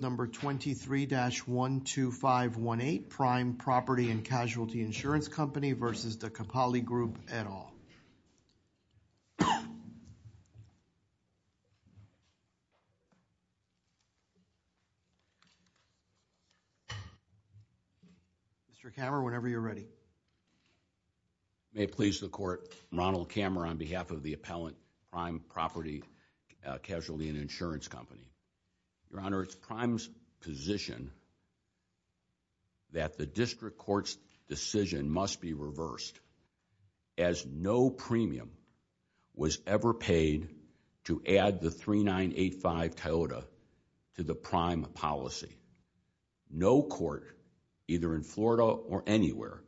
23-12518, Prime Property and Casualty Insurance Company v. Kepali Group, et al. May it please the Court, I'm Ronald Kammer on behalf of the Appellant Prime Property and Casualty Insurance Company. Your Honor, it's Prime's position that the District Court's decision must be reversed, as no premium was ever paid to add the 3985 Toyota to the Prime policy. No court, either in Florida or anywhere,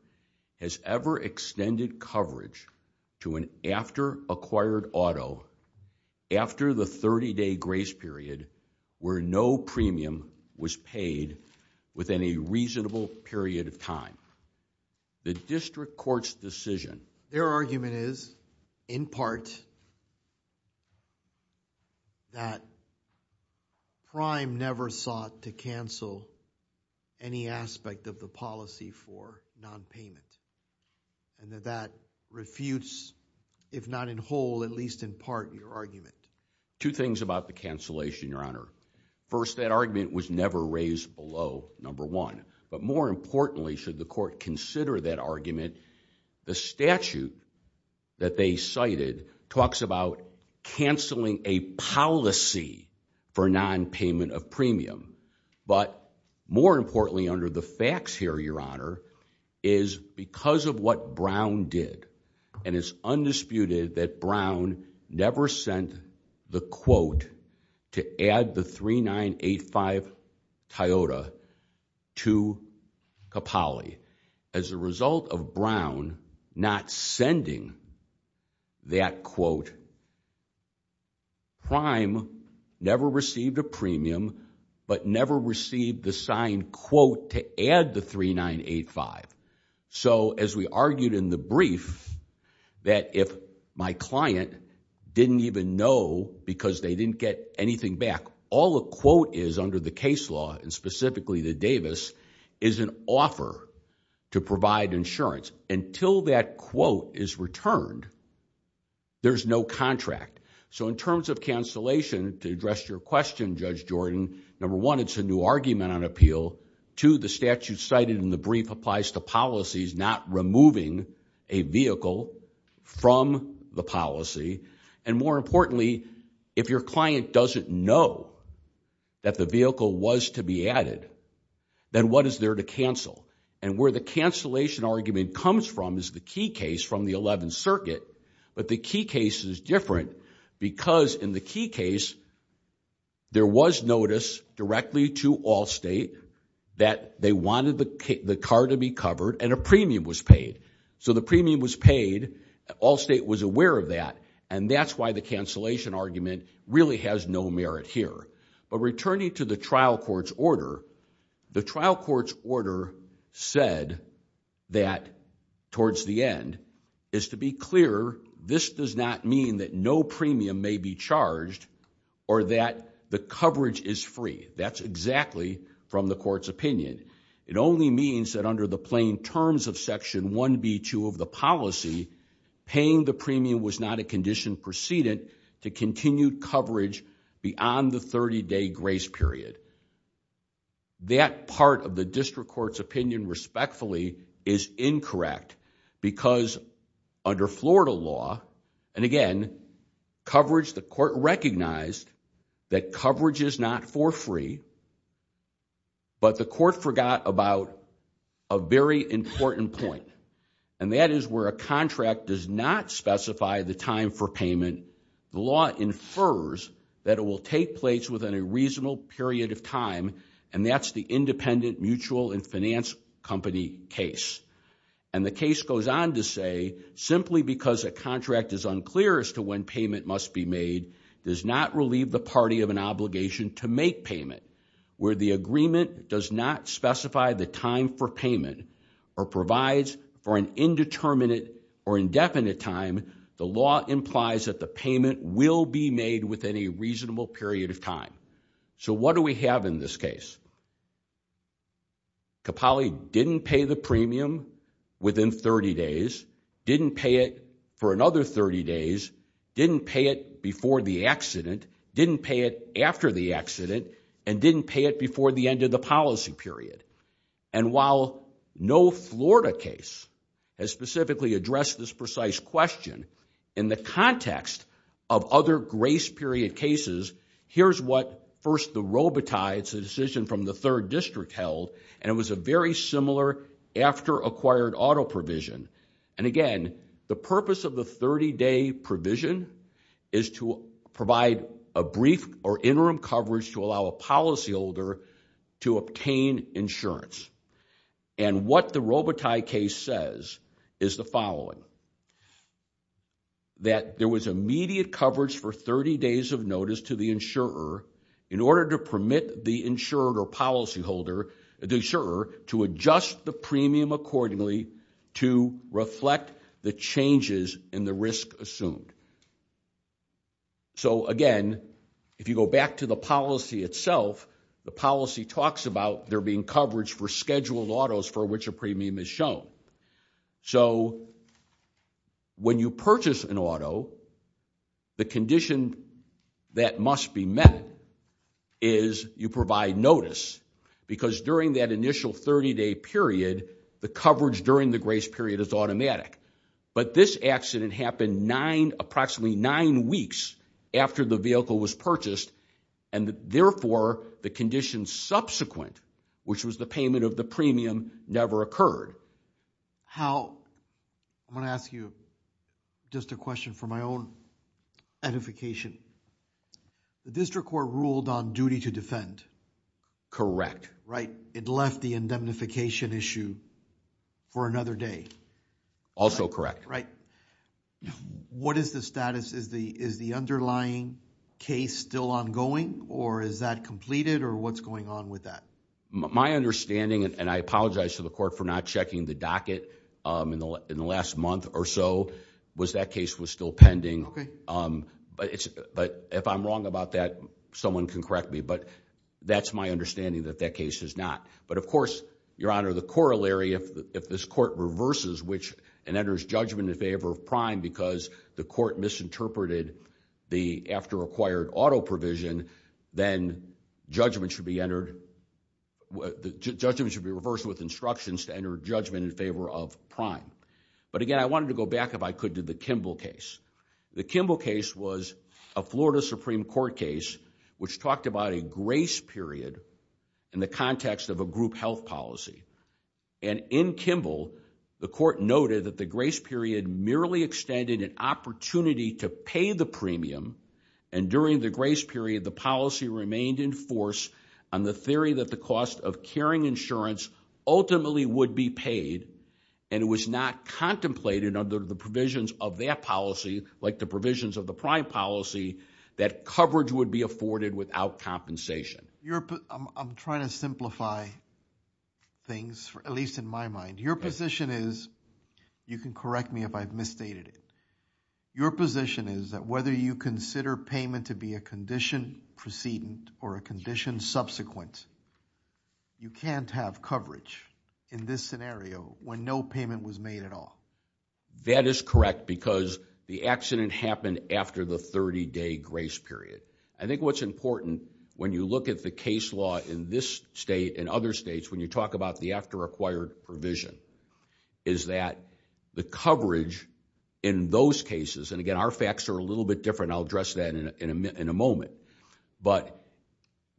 has ever extended coverage to an after-acquired auto after the 30-day grace period where no premium was paid within a reasonable period of time. The District Court's decision... Their argument is, in part, that Prime never sought to cancel any aspect of the policy for nonpayment, and that that refutes, if not in whole, at least in part, your argument. Two things about the cancellation, Your Honor. First, that argument was never raised below, number one. But more importantly, should the Court consider that argument, the statute that they cited talks about canceling a policy for nonpayment of premium. But more importantly, under the facts here, Your Honor, is because of what Brown did, and it's undisputed that Brown never sent the quote to add the 3985 Toyota to Capali. As a result of Brown not sending that quote, Prime never received a premium, but never received the signed quote to add the 3985. So, as we argued in the brief, that if my client didn't even know because they didn't get anything back, all the quote is under the case law, and specifically the Davis, is an offer to provide insurance. Until that quote is returned, there's no contract. So, in terms of cancellation, to address your question, Judge Jordan, number one, it's a new argument on appeal. Two, the statute cited in the brief applies to policies not removing a vehicle from the policy. And more importantly, if your client doesn't know that the vehicle was to be added, then what is there to cancel? And where the cancellation argument comes from is the key case from the 11th Circuit, but the key case is different because in the key case, there was notice directly to Allstate that they wanted the car to be covered and a premium was paid. So, the premium was paid, Allstate was aware of that, and that's why the cancellation argument really has no merit here. But returning to the trial court's order, the trial court's order said that towards the end, is to be clear, this does not mean that no premium may be charged or that the coverage is free. That's exactly from the court's opinion. It only means that under the plain terms of Section 1B2 of the policy, paying the premium was not a condition precedent to continue coverage beyond the 30-day grace period. That part of the district court's opinion, respectfully, is incorrect because under Florida law, and again, coverage, the court recognized that coverage is not for free, but the court forgot about a very important point. And that is where a contract does not specify the time for payment, the law infers that it will take place within a reasonable period of time, and that's the independent mutual and finance company case. And the case goes on to say, simply because a contract is unclear as to when payment must be made, does not relieve the party of an obligation to make payment, where the agreement does not specify the time for payment, or provides for an indeterminate or indefinite time, the law implies that the payment will be made within a reasonable period of time. So what do we have in this case? Capali didn't pay the premium within 30 days, didn't pay it for another 30 days, didn't pay it before the accident, didn't pay it after the accident, and didn't pay it before the end of the policy period. And while no Florida case has specifically addressed this precise question, in the context of other grace period cases, here's what first the Robitaille, it's a decision from the third district held, and it was a very similar after acquired auto provision. And again, the purpose of the 30 day provision is to provide a brief or interim coverage to allow a policyholder to obtain insurance. And what the Robitaille case says is the following, that there was immediate coverage for 30 days of notice to the insurer, in order to permit the insurer or policyholder, the insurer to adjust the premium accordingly to reflect the changes in the risk assumed. So again, if you go back to the policy itself, the policy talks about there being coverage for scheduled autos for which a premium is shown. So, when you purchase an auto, the condition that must be met, is you provide notice, because during that initial 30 day period, the coverage during the grace period is automatic. But this accident happened nine, approximately nine weeks after the vehicle was purchased, and therefore the conditions subsequent, which was the payment of the premium, never occurred. How, I'm going to ask you just a question for my own edification. The district court ruled on duty to defend. Correct. Right, it left the indemnification issue for another day. Also correct. What is the status? Is the underlying case still ongoing? Or is that completed? Or what's going on with that? My understanding, and I apologize to the court for not checking the docket, in the last month or so, was that case was still pending. But if I'm wrong about that, someone can correct me. But that's my understanding that that case is not. But of course, Your Honor, the corollary, if this court reverses and enters judgment in favor of prime because the court misinterpreted the after acquired auto provision, then judgment should be entered, judgment should be reversed with instructions to enter judgment in favor of prime. But again, I wanted to go back, if I could, to the Kimball case. The Kimball case was a Florida Supreme Court case which talked about a grace period in the context of a group health policy. And in Kimball, the court noted that the grace period merely extended an opportunity to pay the premium. And during the grace period, the policy remained in force on the theory that the cost of caring insurance ultimately would be paid, and it was not contemplated under the provisions of that policy, like the provisions of the prime policy, that coverage would be afforded without compensation. I'm trying to simplify things, but that's what's on my mind. Your position is, you can correct me if I've misstated it, your position is that whether you consider payment to be a condition precedent or a condition subsequent, you can't have coverage in this scenario when no payment was made at all. That is correct because the accident happened after the 30-day grace period. I think what's important when you look at the case law in this state and other states, when you talk about the after-acquired provision, is that the coverage in those cases, and again, our facts are a little bit different, I'll address that in a moment, but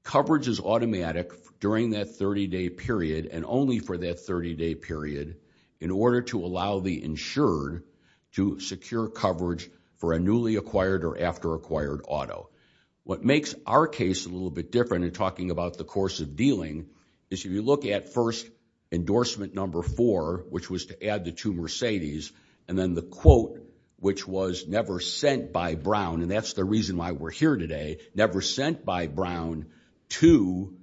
coverage is automatic during that 30-day period and only for that 30-day period in order to allow the insured to secure coverage for a newly acquired or after-acquired auto. What makes our case a little bit different in talking about the course of dealing with this is we look at first endorsement number four, which was to add the two Mercedes, and then the quote which was never sent by Brown, and that's the reason why we're here today, never sent by Brown to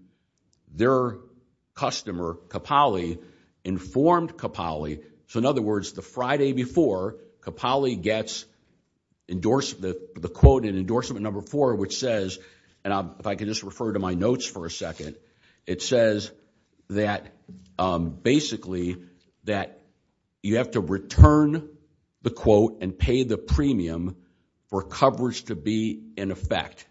their customer, Capali, informed Capali, so in other words, the Friday before, Capali gets the quote in endorsement number four which says, and if I can just refer to my notes for a second, it says that basically that you have to return the quote and pay the premium for coverage to be in effect,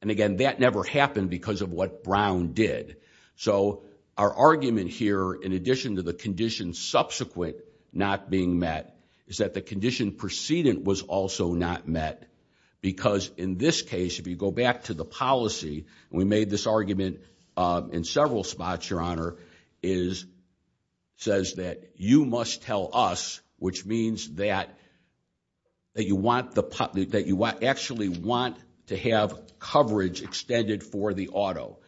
and again, that never happened because of what Brown did, so our argument here, in addition to the condition subsequent not being met, is that the condition precedent was also not met because in this case, if you go back to the policy, we made this argument in several spots, Your Honor, says that you must tell us, which means that you actually want to have coverage extended for the auto,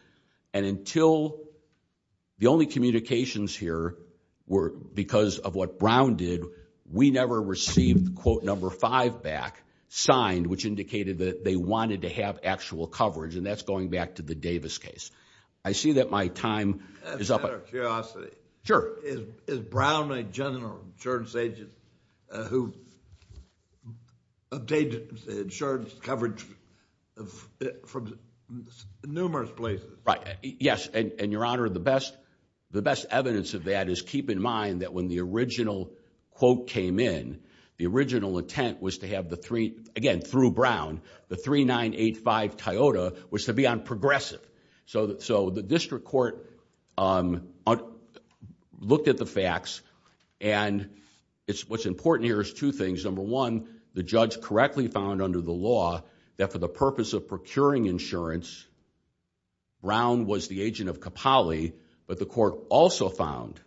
and until the only communications here were because of what Brown did, we never received quote number five back, signed, which indicated that they wanted to have actual coverage, and that's going back to the Davis case. I see that my time is up. I have a curiosity. Sure. Is Brown a general insurance agent who obtained insurance coverage from numerous places? Right, yes, and Your Honor, the best evidence of that is keep in mind that when the original quote came in, the original intent was to have the three, again, through Brown, the 3985 Toyota, was to be on progressive, so the district court looked at the facts, and what's important here is two things. Number one, the judge correctly found under the law that for the purpose of procuring insurance, Brown was the agent of Capali, but the court also found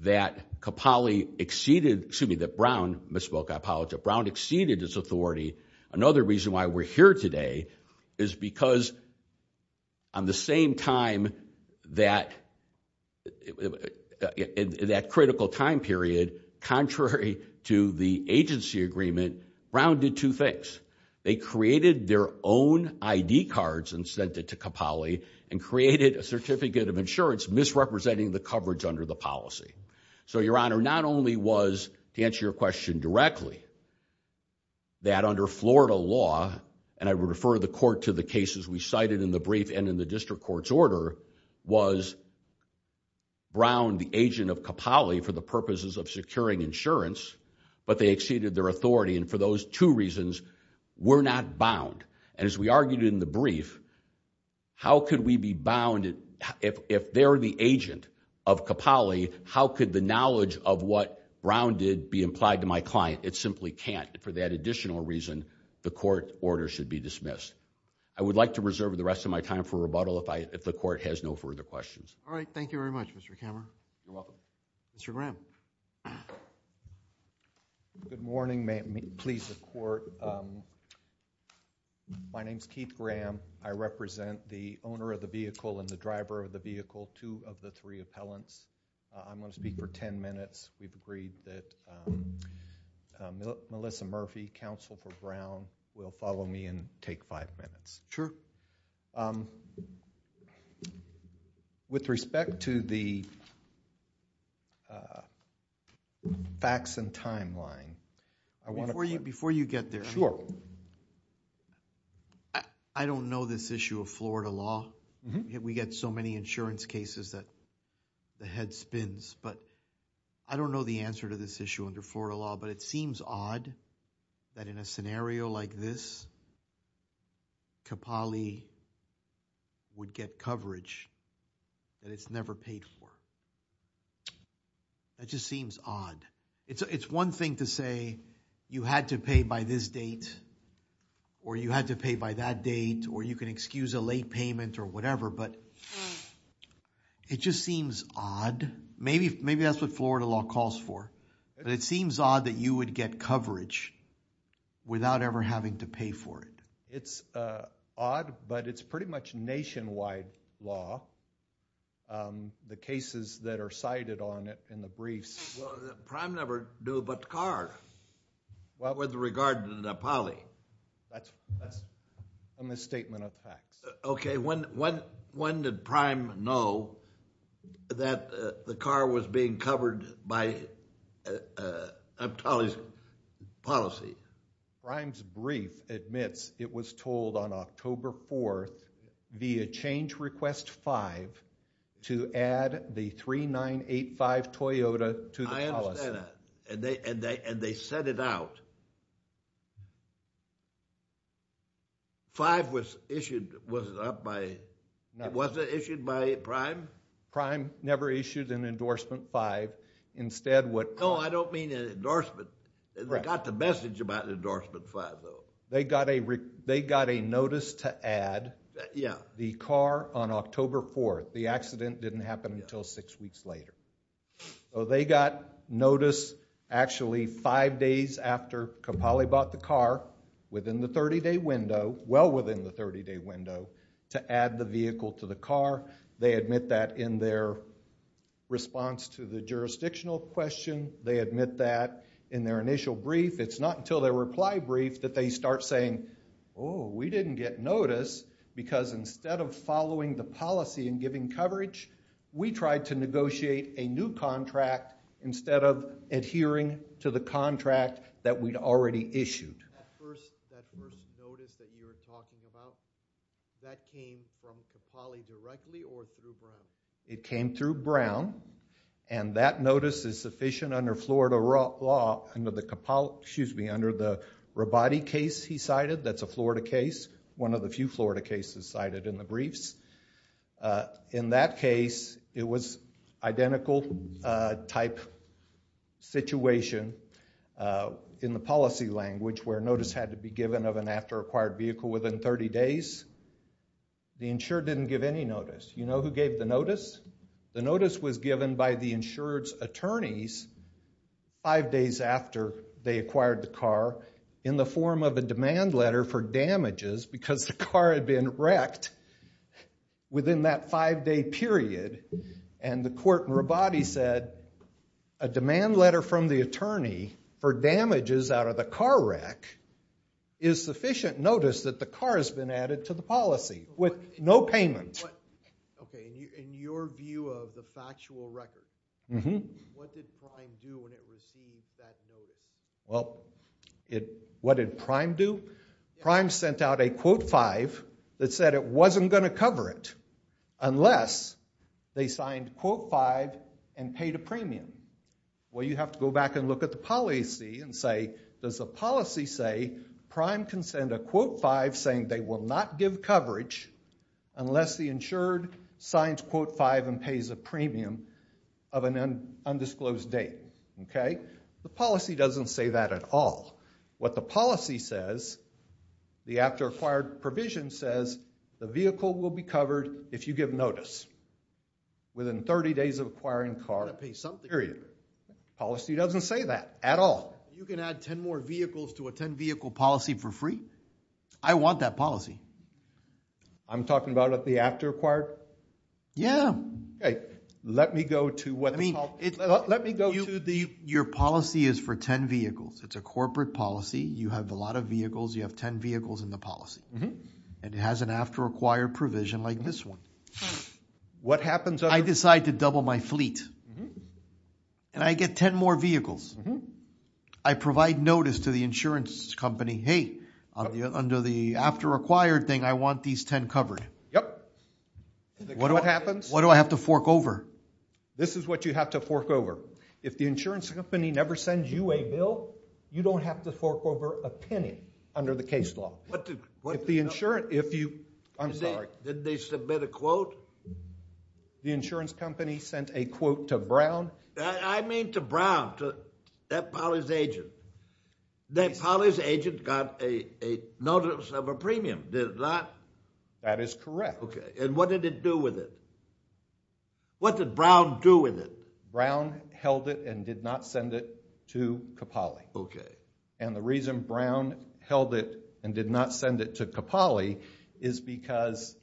that Capali exceeded, excuse me, that Brown misspoke, I apologize, that Brown exceeded its authority. Another reason why we're here today is because on the same time, that critical time period, contrary to the agency agreement, Brown did two things. They created their own ID cards and sent it to Capali and created a certificate of insurance misrepresenting the coverage under the policy. So Your Honor, not only was, to answer your question directly, that under Florida law, and I would refer the court to the cases we cited in the brief and in the district court's order, was Brown the agent of Capali for the purposes of securing insurance, but they exceeded their authority, and for those two reasons, we're not bound. And as we argued in the brief, how could we be bound, if they're the agent of Capali, how could the knowledge of what Brown did be implied to my client? It simply can't. For that additional reason, the court order should be dismissed. I would like to reserve the rest of my time for rebuttal if the court has no further questions. All right, thank you very much, Mr. Cameron. You're welcome. Mr. Graham. Good morning, please, the court. My name's Keith Graham. I represent the owner of the vehicle and the driver of the vehicle, two of the three appellants. I'm going to speak for 10 minutes. We've agreed that Melissa Murphy, counsel for Brown, will follow me and take five minutes. With respect to the facts and timeline, I want to... Before you get there... Sure. I don't know this issue of Florida law. We get so many insurance cases that the head spins, but I don't know the answer to this issue under Florida law, but it seems odd that in a scenario like this, Capali would get coverage that it's never paid for. That just seems odd. It's one thing to say, you had to pay by this date or you had to pay by that date or you can excuse a late payment or whatever, but it just seems odd. Maybe that's what Florida law calls for, but it seems odd that you would get coverage without ever having to pay for it. It's odd, but it's pretty much nationwide law. The cases that are cited on it in the briefs... Well, the prime never knew about the car with regard to Capali. That's a misstatement of facts. Okay. When did Prime know that the car was being covered by Capali's policy? Prime's brief admits it was told on October 4th via change request 5 to add the 3985 Toyota to the policy. I understand that, and they set it out. 5 was issued... Was it issued by Prime? Prime never issued an endorsement 5. Instead, what... No, I don't mean an endorsement. They got the message about an endorsement 5, though. They got a notice to add the car on October 4th. The accident didn't happen until six weeks later. They got notice actually five days after Capali bought the car within the 30-day window, well within the 30-day window, to add the vehicle to the car. They admit that in their response to the jurisdictional question. They admit that in their initial brief. It's not until their reply brief that they start saying, oh, we didn't get notice because instead of following the policy and giving coverage, we tried to negotiate a new contract instead of adhering to the contract that was already issued. That first notice that you were talking about, that came from Capali directly or through Brown? It came through Brown and that notice is sufficient under Florida law, under the Capali, excuse me, under the Rabati case he cited. That's a Florida case, one of the few Florida cases cited in the briefs. In that case, it was identical type situation. There was a policy language where notice had to be given of an after-acquired vehicle within 30 days. The insured didn't give any notice. You know who gave the notice? The notice was given by the insured's attorneys five days after they acquired the car in the form of a demand letter for damages because the car had been wrecked within that five-day period and the court in Rabati said a demand letter from the attorney for damages out of the car wreck is sufficient notice that the car has been added to the policy with no payment. In your view of the factual record, what did Prime do when it received that notice? Well, what did Prime do? Prime sent out a Quote 5 that said it wasn't going to cover it unless they signed Quote 5 and paid a premium. Well, you have to go back and look at the policy and say, does the policy say Prime can send a Quote 5 saying they will not give coverage unless the insured signs Quote 5 and pays a premium of an undisclosed date? Okay? The policy doesn't say that at all. What the policy says, the after-acquired provision says the vehicle will be covered if you give notice within 30 days of acquiring car for free. The policy doesn't say that at all. You can add 10 more vehicles to a 10-vehicle policy for free? I want that policy. I'm talking about the after-acquired? Yeah. Let me go to what the policy... Let me go to the... Your policy is for 10 vehicles. It's a corporate policy. You have a lot of vehicles. You have 10 vehicles in the policy. And it has an after-acquired provision like this one. And I get 10 more vehicles. I provide notice to the insurance company, hey, under the after-acquired thing, I want these 10 covered. Yep. What happens? What do I have to fork over? This is what you have to fork over. If the insurance company never sends you a bill, you don't have to fork over a penny under the case law. If the insurance... I'm sorry. I mean to Brown, that Polly's agent. That Polly's agent got a notice of a premium. Did it not? That is correct. And what did it do with it? What did Brown do with it? Brown held it and did not send it to Capali. And the reason Brown held it and did not send it to Capali is because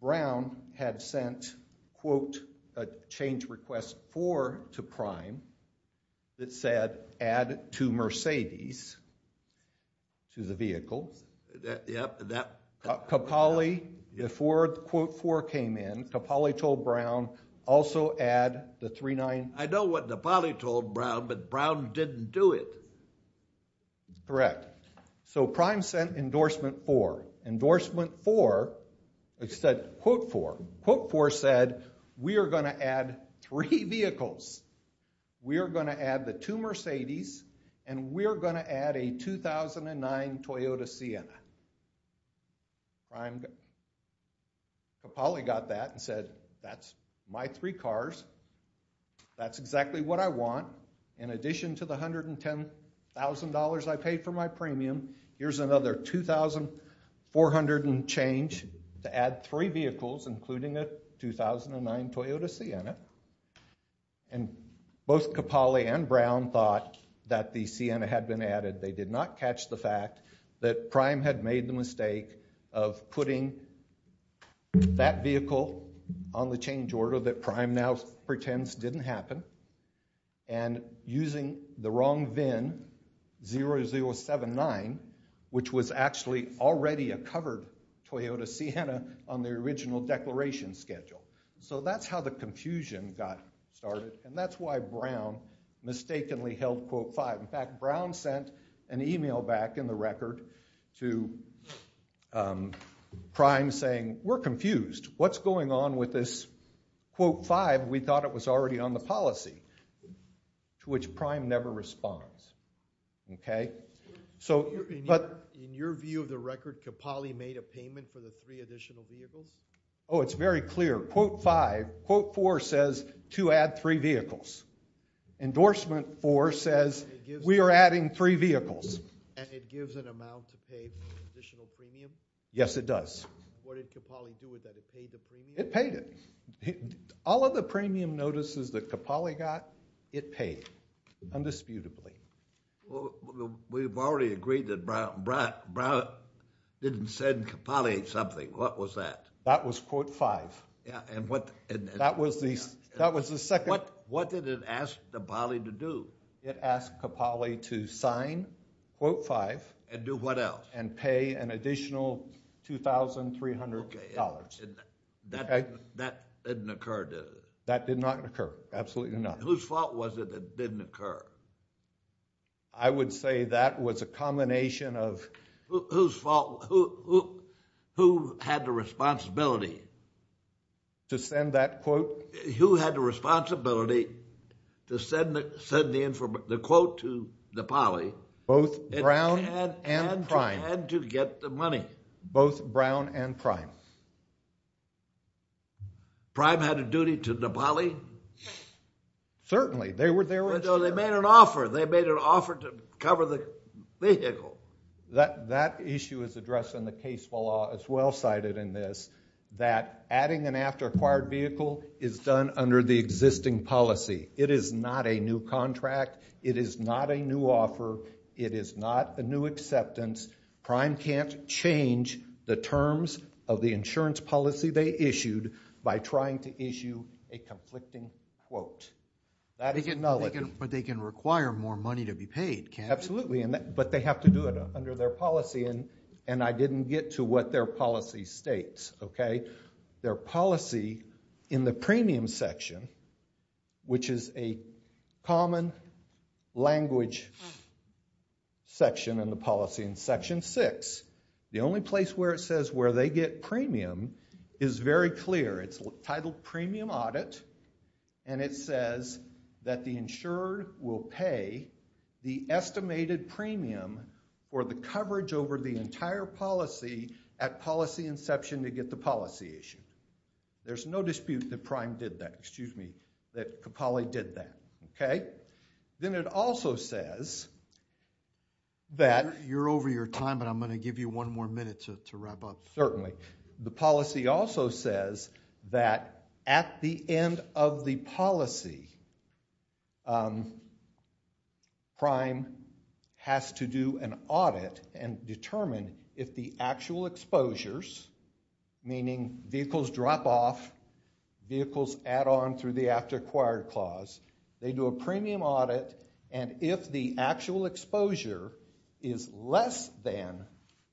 Brown had sent quote, a change request for to Prime that said add two Mercedes to the vehicle. before quote four came in, Capali told Brown also add the three nine. I know what Capali told Brown, but Brown didn't do it. Correct. So Prime sent endorsement four. Endorsement four said quote four. Quote four said we are going to add three vehicles. We are going to add the two Mercedes and we are going to add a two thousand and nine Toyota Sienna. Capali got that and said that's my three cars. That's exactly what I want. In addition to the hundred and ten thousand dollars I paid for my premium. Here's another two thousand four hundred and change to add three vehicles including a two thousand and nine Toyota Sienna. And both Capali and Brown thought that the Sienna had been added. They did not catch the fact that Prime had made the mistake of putting that vehicle on the change order that Prime now pretends didn't happen and using the wrong VIN zero zero seven nine which was actually already a covered Toyota Sienna on the original declaration schedule. So that's how the confusion got started and that's why Brown mistakenly held quote five. In fact, Brown sent an email back in the record to Prime saying we're confused. What's going on with this quote five? We thought it was already on the policy to which Prime never responds. In your view of the record, Capali made a payment for the three additional vehicles? Oh, it's very clear. Quote five. Quote four says to add three vehicles. Endorsement four says we are adding three vehicles. And it gives an amount to pay additional premium? Yes, it does. What did Capali do with that? It paid the premium? It paid it. All of the premium notices that Capali got, it paid indisputably. We've already agreed that Brown didn't send Capali something. What was that? That was quote five. What did it ask Capali to do? It asked Capali to sign quote five and pay an additional $2,300. That didn't occur, That did not occur. Absolutely not. Whose fault was it that it didn't occur? I would say that was a combination of Whose fault who had the responsibility to send that quote? Who had the responsibility to send the quote to Capali? Both Brown It had to get the money. Both Brown and Prime. Prime had a duty to Capali? Certainly. They made an offer. They made an offer to cover the vehicle. That issue is addressed in the case law as well cited in this that adding an after acquired vehicle is done under the existing policy. It is not a new contract. It is not a new offer. It is not a new acceptance. Prime can't change the terms of the insurance policy they issued by trying to issue a conflicting quote. But they can require more money to be paid. Absolutely. But they have to do it under their policy. And I didn't get to what their policy states. Okay? Their policy in the premium section which is a common language section in the policy in section six. The only place where it says where they get premium is very clear. It's titled premium audit and it says that the will pay the estimated premium for the coverage over the entire policy at policy inception to get the policy issued. There's no dispute that Prime did that. Excuse me. That Capali did that. Okay? Then it also says that you're over your time but I'm going to give you one more minute to wrap up. The policy also says that at the end of the policy Prime has to do an audit and determine if the actual exposures meaning vehicles drop off, vehicles add on through the after acquired clause, they do a premium audit and if the actual exposure is less than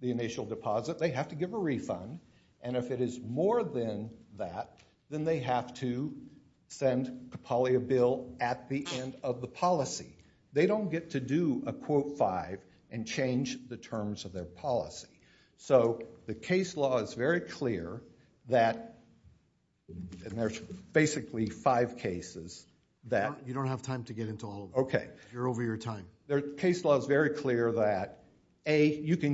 the initial deposit they have to give a refund and if it is more than that then they have to send Capali a bill at the end of the policy. They don't get to do a quote five and change the terms of their policy. So the case law is very clear that there's basically five cases that you don't get to do if the actual exposures meaning vehicles drop off, vehicles add they do an audit and determine if the actual exposure is less than the deposit they have to give a So that's they have The actual findings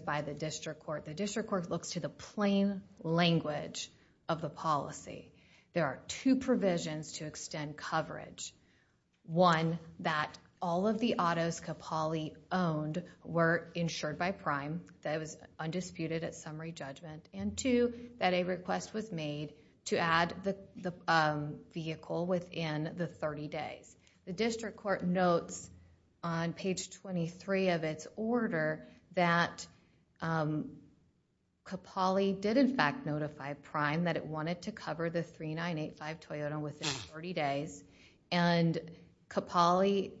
by the district court. The district court looks to the plain language of the policy. There are two provisions to extend coverage. One, that all of the Capali owned were insured by prime that was undisputed at summary judgment and two, that a request was made to add the vehicle within the 30 days. The court notes on page 23 of its order that Capali did in fact notify prime that it wanted to cover the 3985 Toyota within 30 days and Capali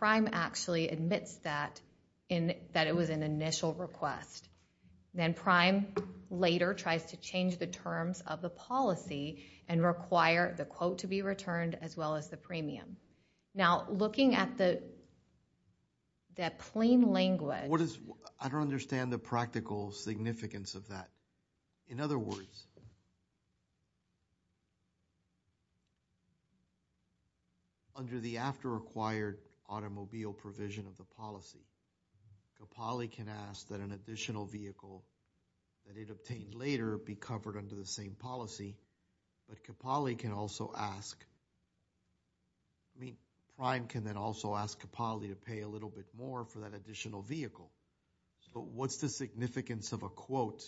actually admits that it was an initial request. Then prime later tries to change the terms of the policy and require the quote to be returned as well as the premium. Now, looking at the plain language I don't understand the practical significance of that. In other words, under the after the same Capali can ask that an additional vehicle that it obtained later be covered under the same policy, can also ask, I mean, prime can then also ask Capali to pay a little bit more for that additional vehicle. But what's the point?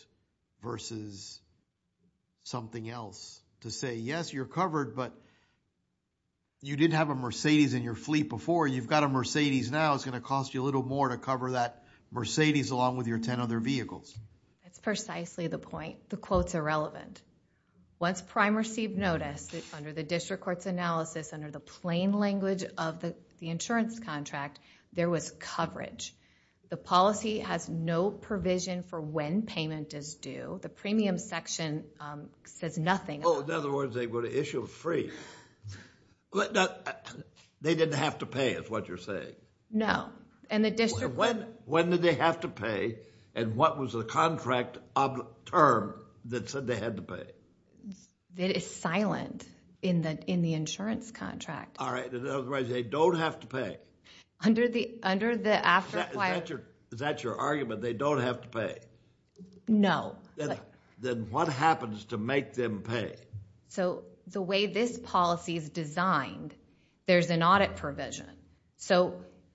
You've got a Mercedes now it's going to cost you a little more to cover that Mercedes along with your ten other vehicles. It's precisely the point. The quote's Once prime received notice under the district court's under the plain language of the insurance contract, there was no additional vehicle So that's the point. The question is what's the point? The question is what's the point? The question is what's the point? The question is what's question is So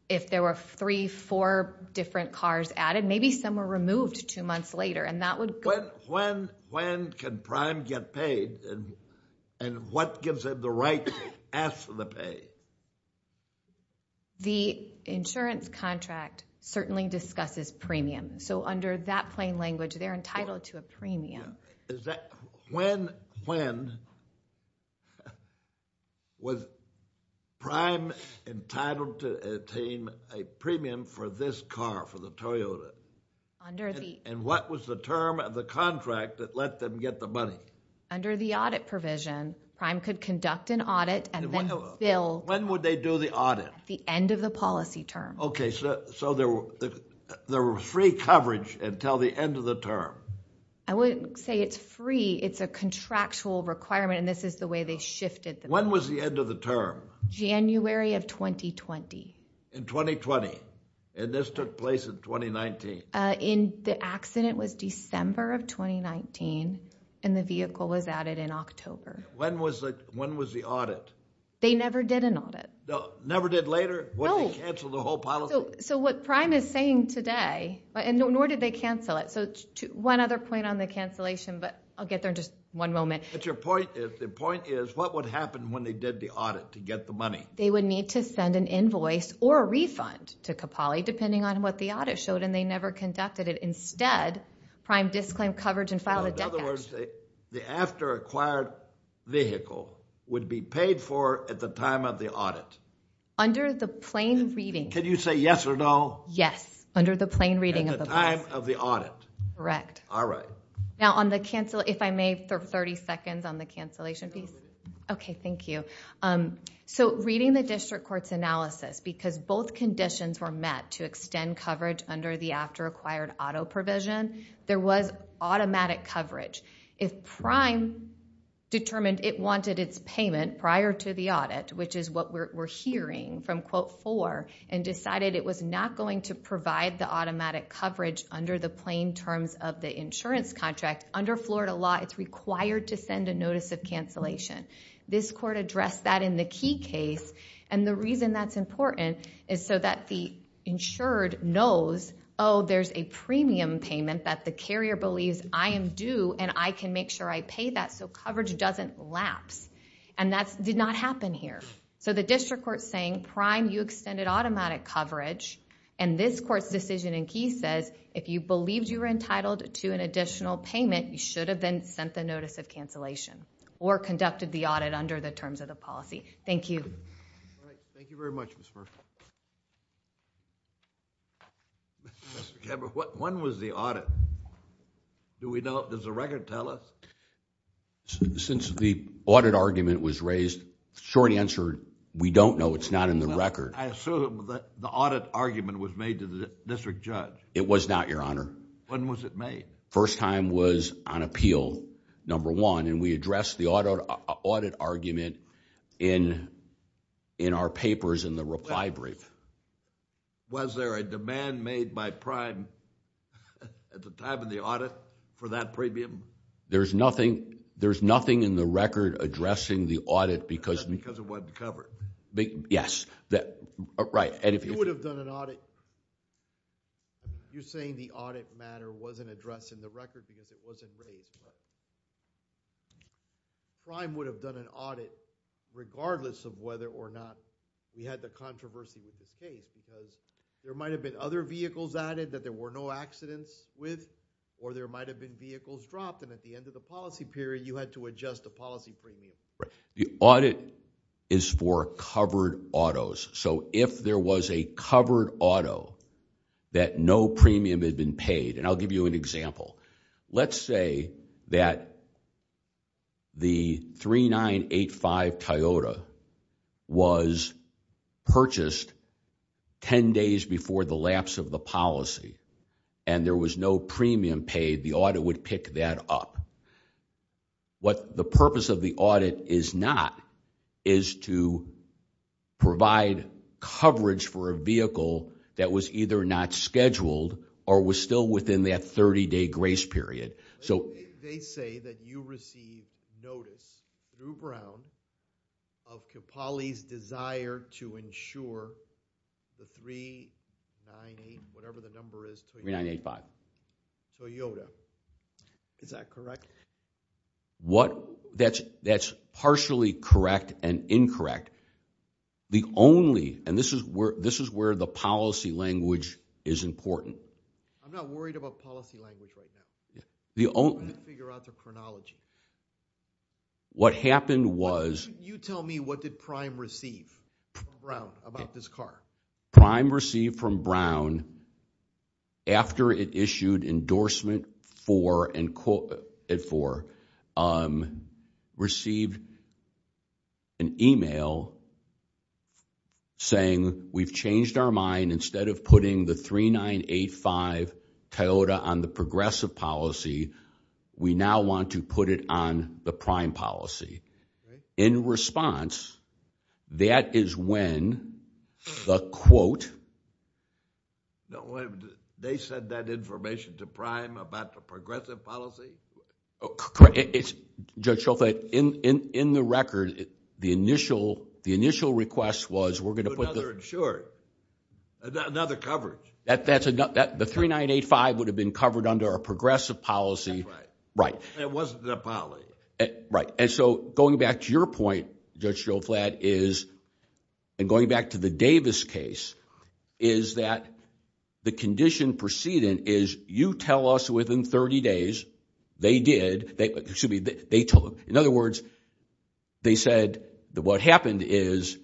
if there were three, different cars added maybe some were removed two months later. When can get paid and what gives them the right to ask for the pay? The insurance contract certainly discusses So under that plain language they're entitled to a premium. When was Prime entitled to obtain a premium for this car, for the Toyota? And what was the term of the contract that let them get the money? the audit provision, could conduct an audit and then fill at the end of the policy term. Okay, so there were free coverage until the end of the term? I wouldn't say it's free, it's a contractual requirement and this is the way they shifted. When was the end of the term? January of 2020. In 2020? And this took place in 2019? In the accident was December of 2019 and the vehicle was added in When was the audit? They never did an audit. Never did later? So what prime is saying today, nor did they cancel it. One other point on the cancellation but I'll get there in just one moment. The point is what would happen when they did the audit to get the money? They would need to send an invoice or a refund depending on what the vehicle would be paid for at the time of the audit. Can you say yes or no? Yes. At the time of the audit. If I may for 30 seconds on the cancellation piece. Reading the court's because both conditions were met to extend coverage under the after-acquired auto provision, there was automatic coverage. If prime determined it wanted its payment prior to the audit which is what we're hearing from quote 4 and decided it was not going to provide the automatic coverage under the plain terms of the insurance contract, under Florida law it's required to send a notice of cancellation. This court addressed that in the key case and the reason that's important is so that the insured knows oh there's a premium payment that the carrier believes I am due and I can make sure I pay that so coverage doesn't lapse. And that did not happen here. So the district court is saying prime you extended automatic coverage and this is the the audit under the terms of the policy. Thank you. Thank you very much Mr. When was the audit? Does the record tell us? Since the audit argument was raised short answer we don't know it's not in the record. I assume the audit argument was made to the district judge. It was not your honor. When was it made? First time was on appeal number one and we addressed the audit argument in our papers in the reply brief. Was there a demand made by prime at the time of the audit for that premium? There's nothing in the record addressing the audit because it wasn't covered. Yes. Right. If you would have done an audit you're saying the audit matter wasn't addressed in the record because it wasn't raised. Prime would have done an audit regardless of whether or not we had the controversy of the case because there might have been other vehicles added that there were no accidents with or there might have been vehicles dropped and at the end of the policy period you had to adjust the policy premium. The audit is for covered autos so if there was a covered auto that no premium had been paid and I'll give you an example. Let's say that the 3985 Toyota was purchased ten days before the policy and there was no premium paid, the audit would pick that up. The purpose of the audit is not to provide coverage for a vehicle that was either not scheduled or was still within that 30-day grace period. They say that you received notice through Brown of Capali's desire to provide 3985 Toyota. Is that correct? That's partially correct and incorrect. The only and this is where the policy language is important. I'm not worried about policy language right now. I'm trying to figure out the chronology. You tell me what did Prime receive from Brown after it issued endorsement for and quoted for received an email saying we've changed our mind, instead of putting the 3985 Toyota on the progressive policy, we now want to put it on the prime policy. In response, that is when the quote, the 3985 sent that information to Prime about the policy? In the record, the initial request was we're going to put another coverage. The 3985 would have been covered under a policy. It wasn't a policy. Going back to your point, Judge Joe Flatt, and going back to the Davis case, the condition preceding is you tell us within 30 days they did, in other words, they said what happened is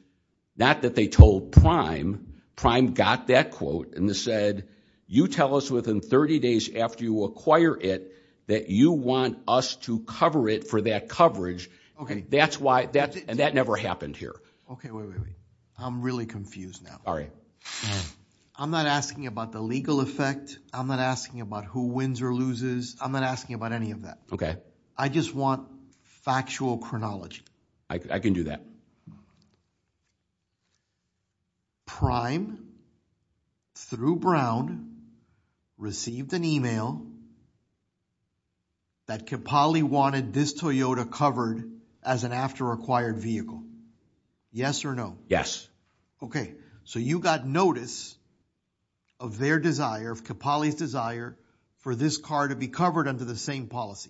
not that they told Prime, Prime got that quote and said you tell us within 30 days after you acquire it that you want us to cover it for that coverage. That never happened here. I'm really confused now. I'm not asking about the legal effect. I'm not asking about who wins or loses. I'm not asking about any of that. I just want factual chronology. I can do that. Prime through Brown received an email that Capali wanted this Toyota covered as an after acquired vehicle. Yes or no? Yes. Okay. So you got notice of their desire, of Capali's desire for this car to be covered under your policy.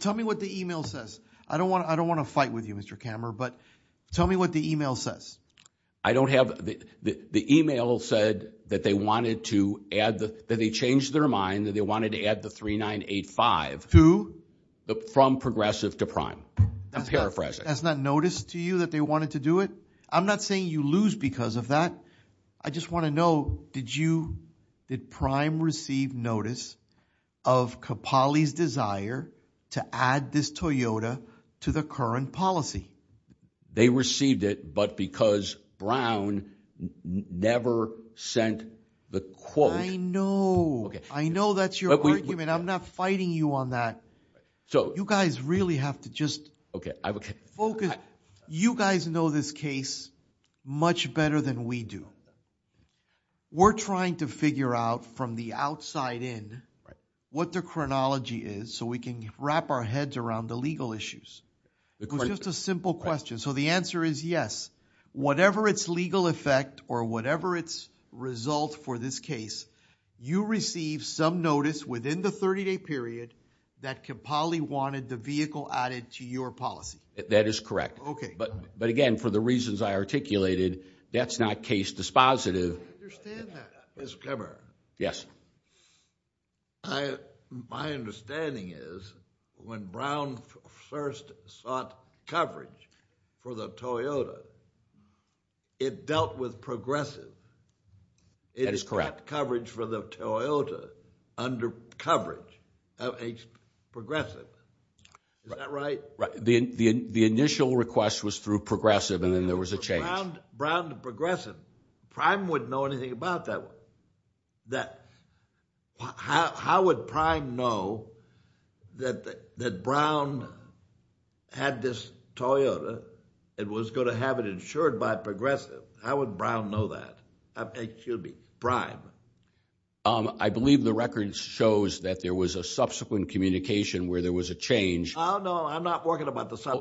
Tell me what the email says. I don't want to fight with you, Kammer, but tell me what the email says. The email said that they changed their mind and wanted to add the 3985 from Progressive to Prime. paraphrasing. That's not notice to you that they wanted to do it? I'm not saying you lose because of that. I just want to know, did Prime receive notice of Capali's desire to add this Toyota to the current policy? They received it, but because Brown never sent the quote. I know. I know that's your argument. I'm not fighting you on that. You guys really have to just focus. You guys know this case much better than we do. We're trying to figure out from the outside in what the chronology is so we can wrap our heads around the legal issues. It's just a simple question. The answer is yes. Whatever its legal effect or whatever its result for this case, you received some notice within the 30-day period that Capali wanted the vehicle added to your policy. That is correct. Okay. But again, for the reasons I articulated, that's not case dispositive. I understand that. Mr. Cameron. Yes. My understanding is when Brown first sought coverage for the Toyota, it dealt with Progressive. That is correct. coverage for the Toyota under coverage of Progressive. Is that right? Right. The initial request was through Progressive and then there was a change. Brown to Progressive. Prime wouldn't know anything about that. How would Prime know that Brown had this Toyota and was going to have it insured by Progressive? How would Brown know that? Excuse me. Prime. I believe the record shows that there was a subsequent communication where there was a change. No, that's not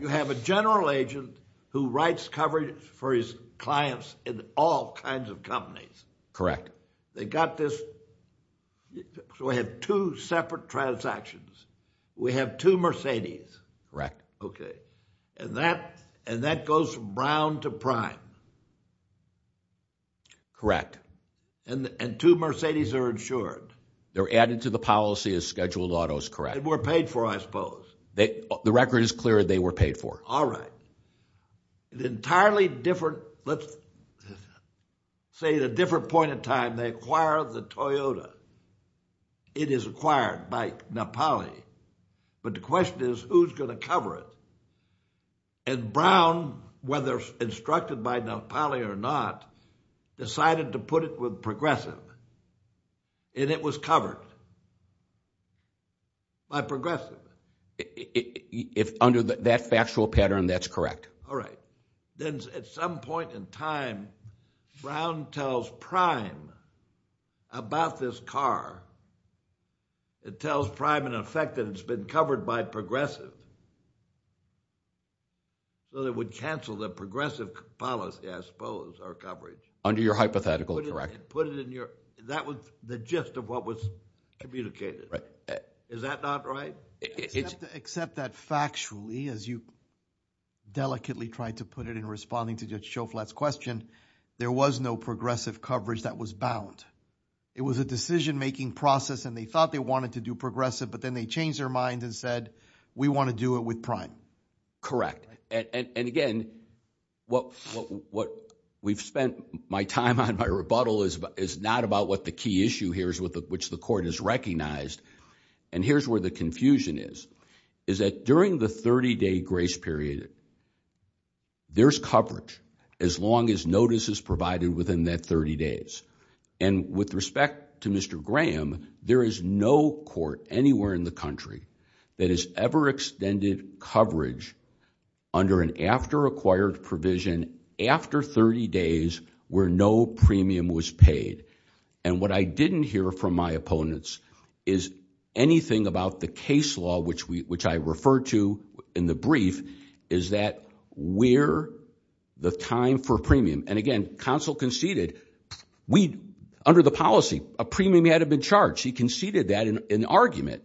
You have a general agent who writes coverage for his clients in all kinds of companies. They got this. So we have two separate transactions. We have two Mercedes. Correct. Okay. And that goes from Brown to Prime. Correct. And two Mercedes are insured. They're added to the policy as scheduled autos. Correct. And were paid for, I The record is clear. They were paid for. All right. Entirely different, let's say at a different point in time, they acquired the Toyota. It is acquired by Napali. But the question is who's going to cover it? And whether instructed by Napali or not, decided to put it with Progressive. And it was covered by Progressive. If under that factual pattern, that's correct. All right. Then at some point in time, Brown tells Prime about this car. It tells Prime in effect that it's been covered by Progressive. So they would cancel the Progressive policy, I suppose, or coverage. Put it in your, that was the gist of what was communicated. Is that not right? Except that factually, as you delicately tried to put it in responding to Judge Schoflat's question, there was no Progressive coverage that was provided what we've spent my time on my rebuttal is not about what the key issue here is, which the court has recognized. And here's where the confusion is, is that during the 30-day grace period, there's coverage as long as notice is provided within that 30 days. And with respect to Mr. there is no court anywhere in the country that has ever extended coverage under an after-acquired provision after 30 days where no premium was paid. And what I didn't hear from my opponents is anything about the case law, which I referred to in the brief, is that we're under the time for premium. And again, counsel conceded under the policy a premium had to be charged. He conceded that in argument.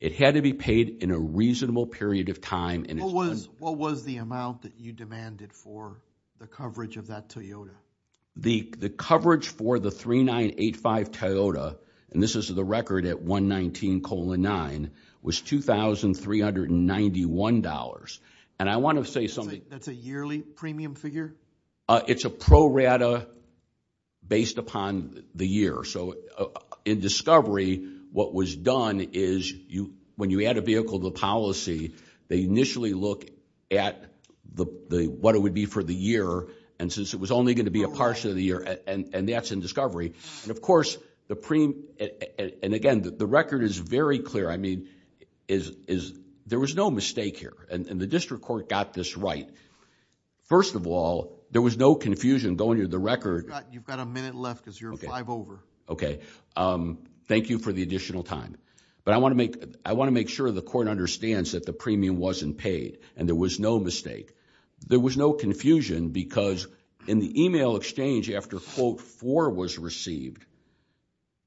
It had to be paid in a reasonable period of What was the amount that you demanded for the coverage of that The coverage for the 3985 Toyota and this is the record at 119 was $2,391. And I want to say something. That's a yearly premium figure? It's a pro rata based upon the year. So in discovery, what was done is when you add a vehicle to the policy, they initially look at what it would be for the year. And since it was only going to be a part of the year. And again, the record is very clear. There was no mistake here. The district court got this right. First of all, there was no confusion going into the record. Thank you for the question. want to say in the email exchange after quote four was received,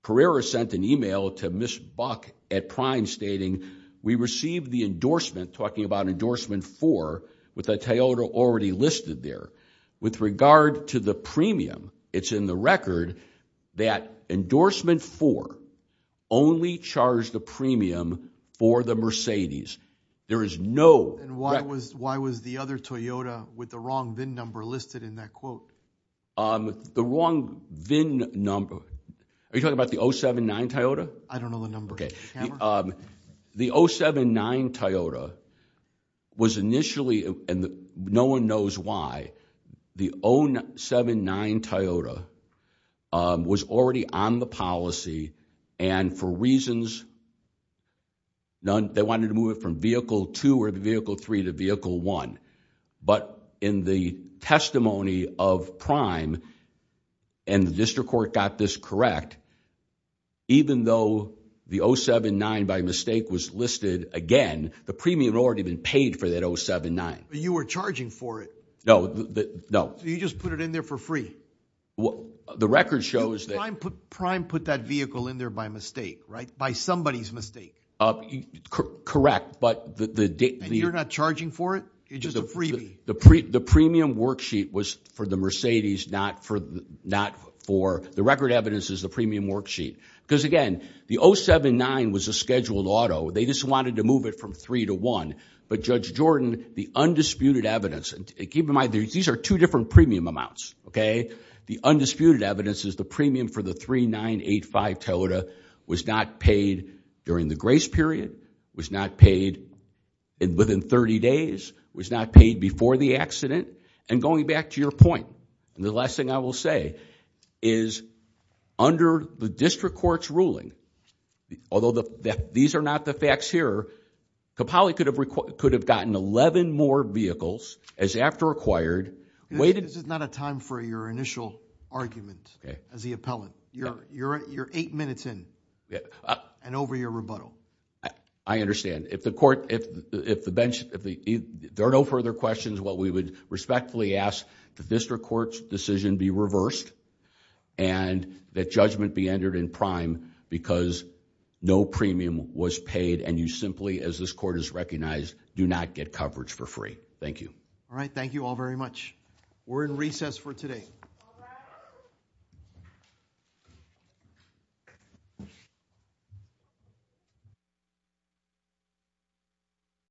Carrera sent an email to Ms. Buck at prime stating we received the endorsement talking about endorsement four with a Toyota already listed there. With regard to the premium, it's in the record that endorsement four only charged the premium for the Mercedes. There is no... Why was the other Toyota with the wrong VIN number listed in that quote? The wrong VIN number, are you talking about the 079 Toyota? I don't know the number. The 079 Toyota was initially, and no one knows why, the 079 Toyota was already on the policy and for reasons, they wanted to move it from vehicle two or vehicle three to vehicle one, but in the testimony of prime and the district court got this correct, even though the 079 by mistake was listed again, the premium had already been paid for that 079. You were charging for it. No. You just put it in there for free. The record shows that. Prime put that vehicle in there by mistake, by somebody's Correct. You're not charging for it? The premium worksheet was for the Mercedes, not for the record evidence. evidence is the premium worksheet. Again, the 079 was a scheduled auto. They just wanted to move it from three to one, but Judge Jordan, the undisputed evidence, keep in mind these are two different premium amounts. The undisputed evidence is the premium for the 3985 Toyota was not charged that. The undisputed Toyota was not charged for that. The undisputed evidence premium for the 3985 was not The undisputed evidence judgment be entered in prime because no premium was paid and you do not get coverage for free. Thank you. Thank you all very much. We're in recess for today.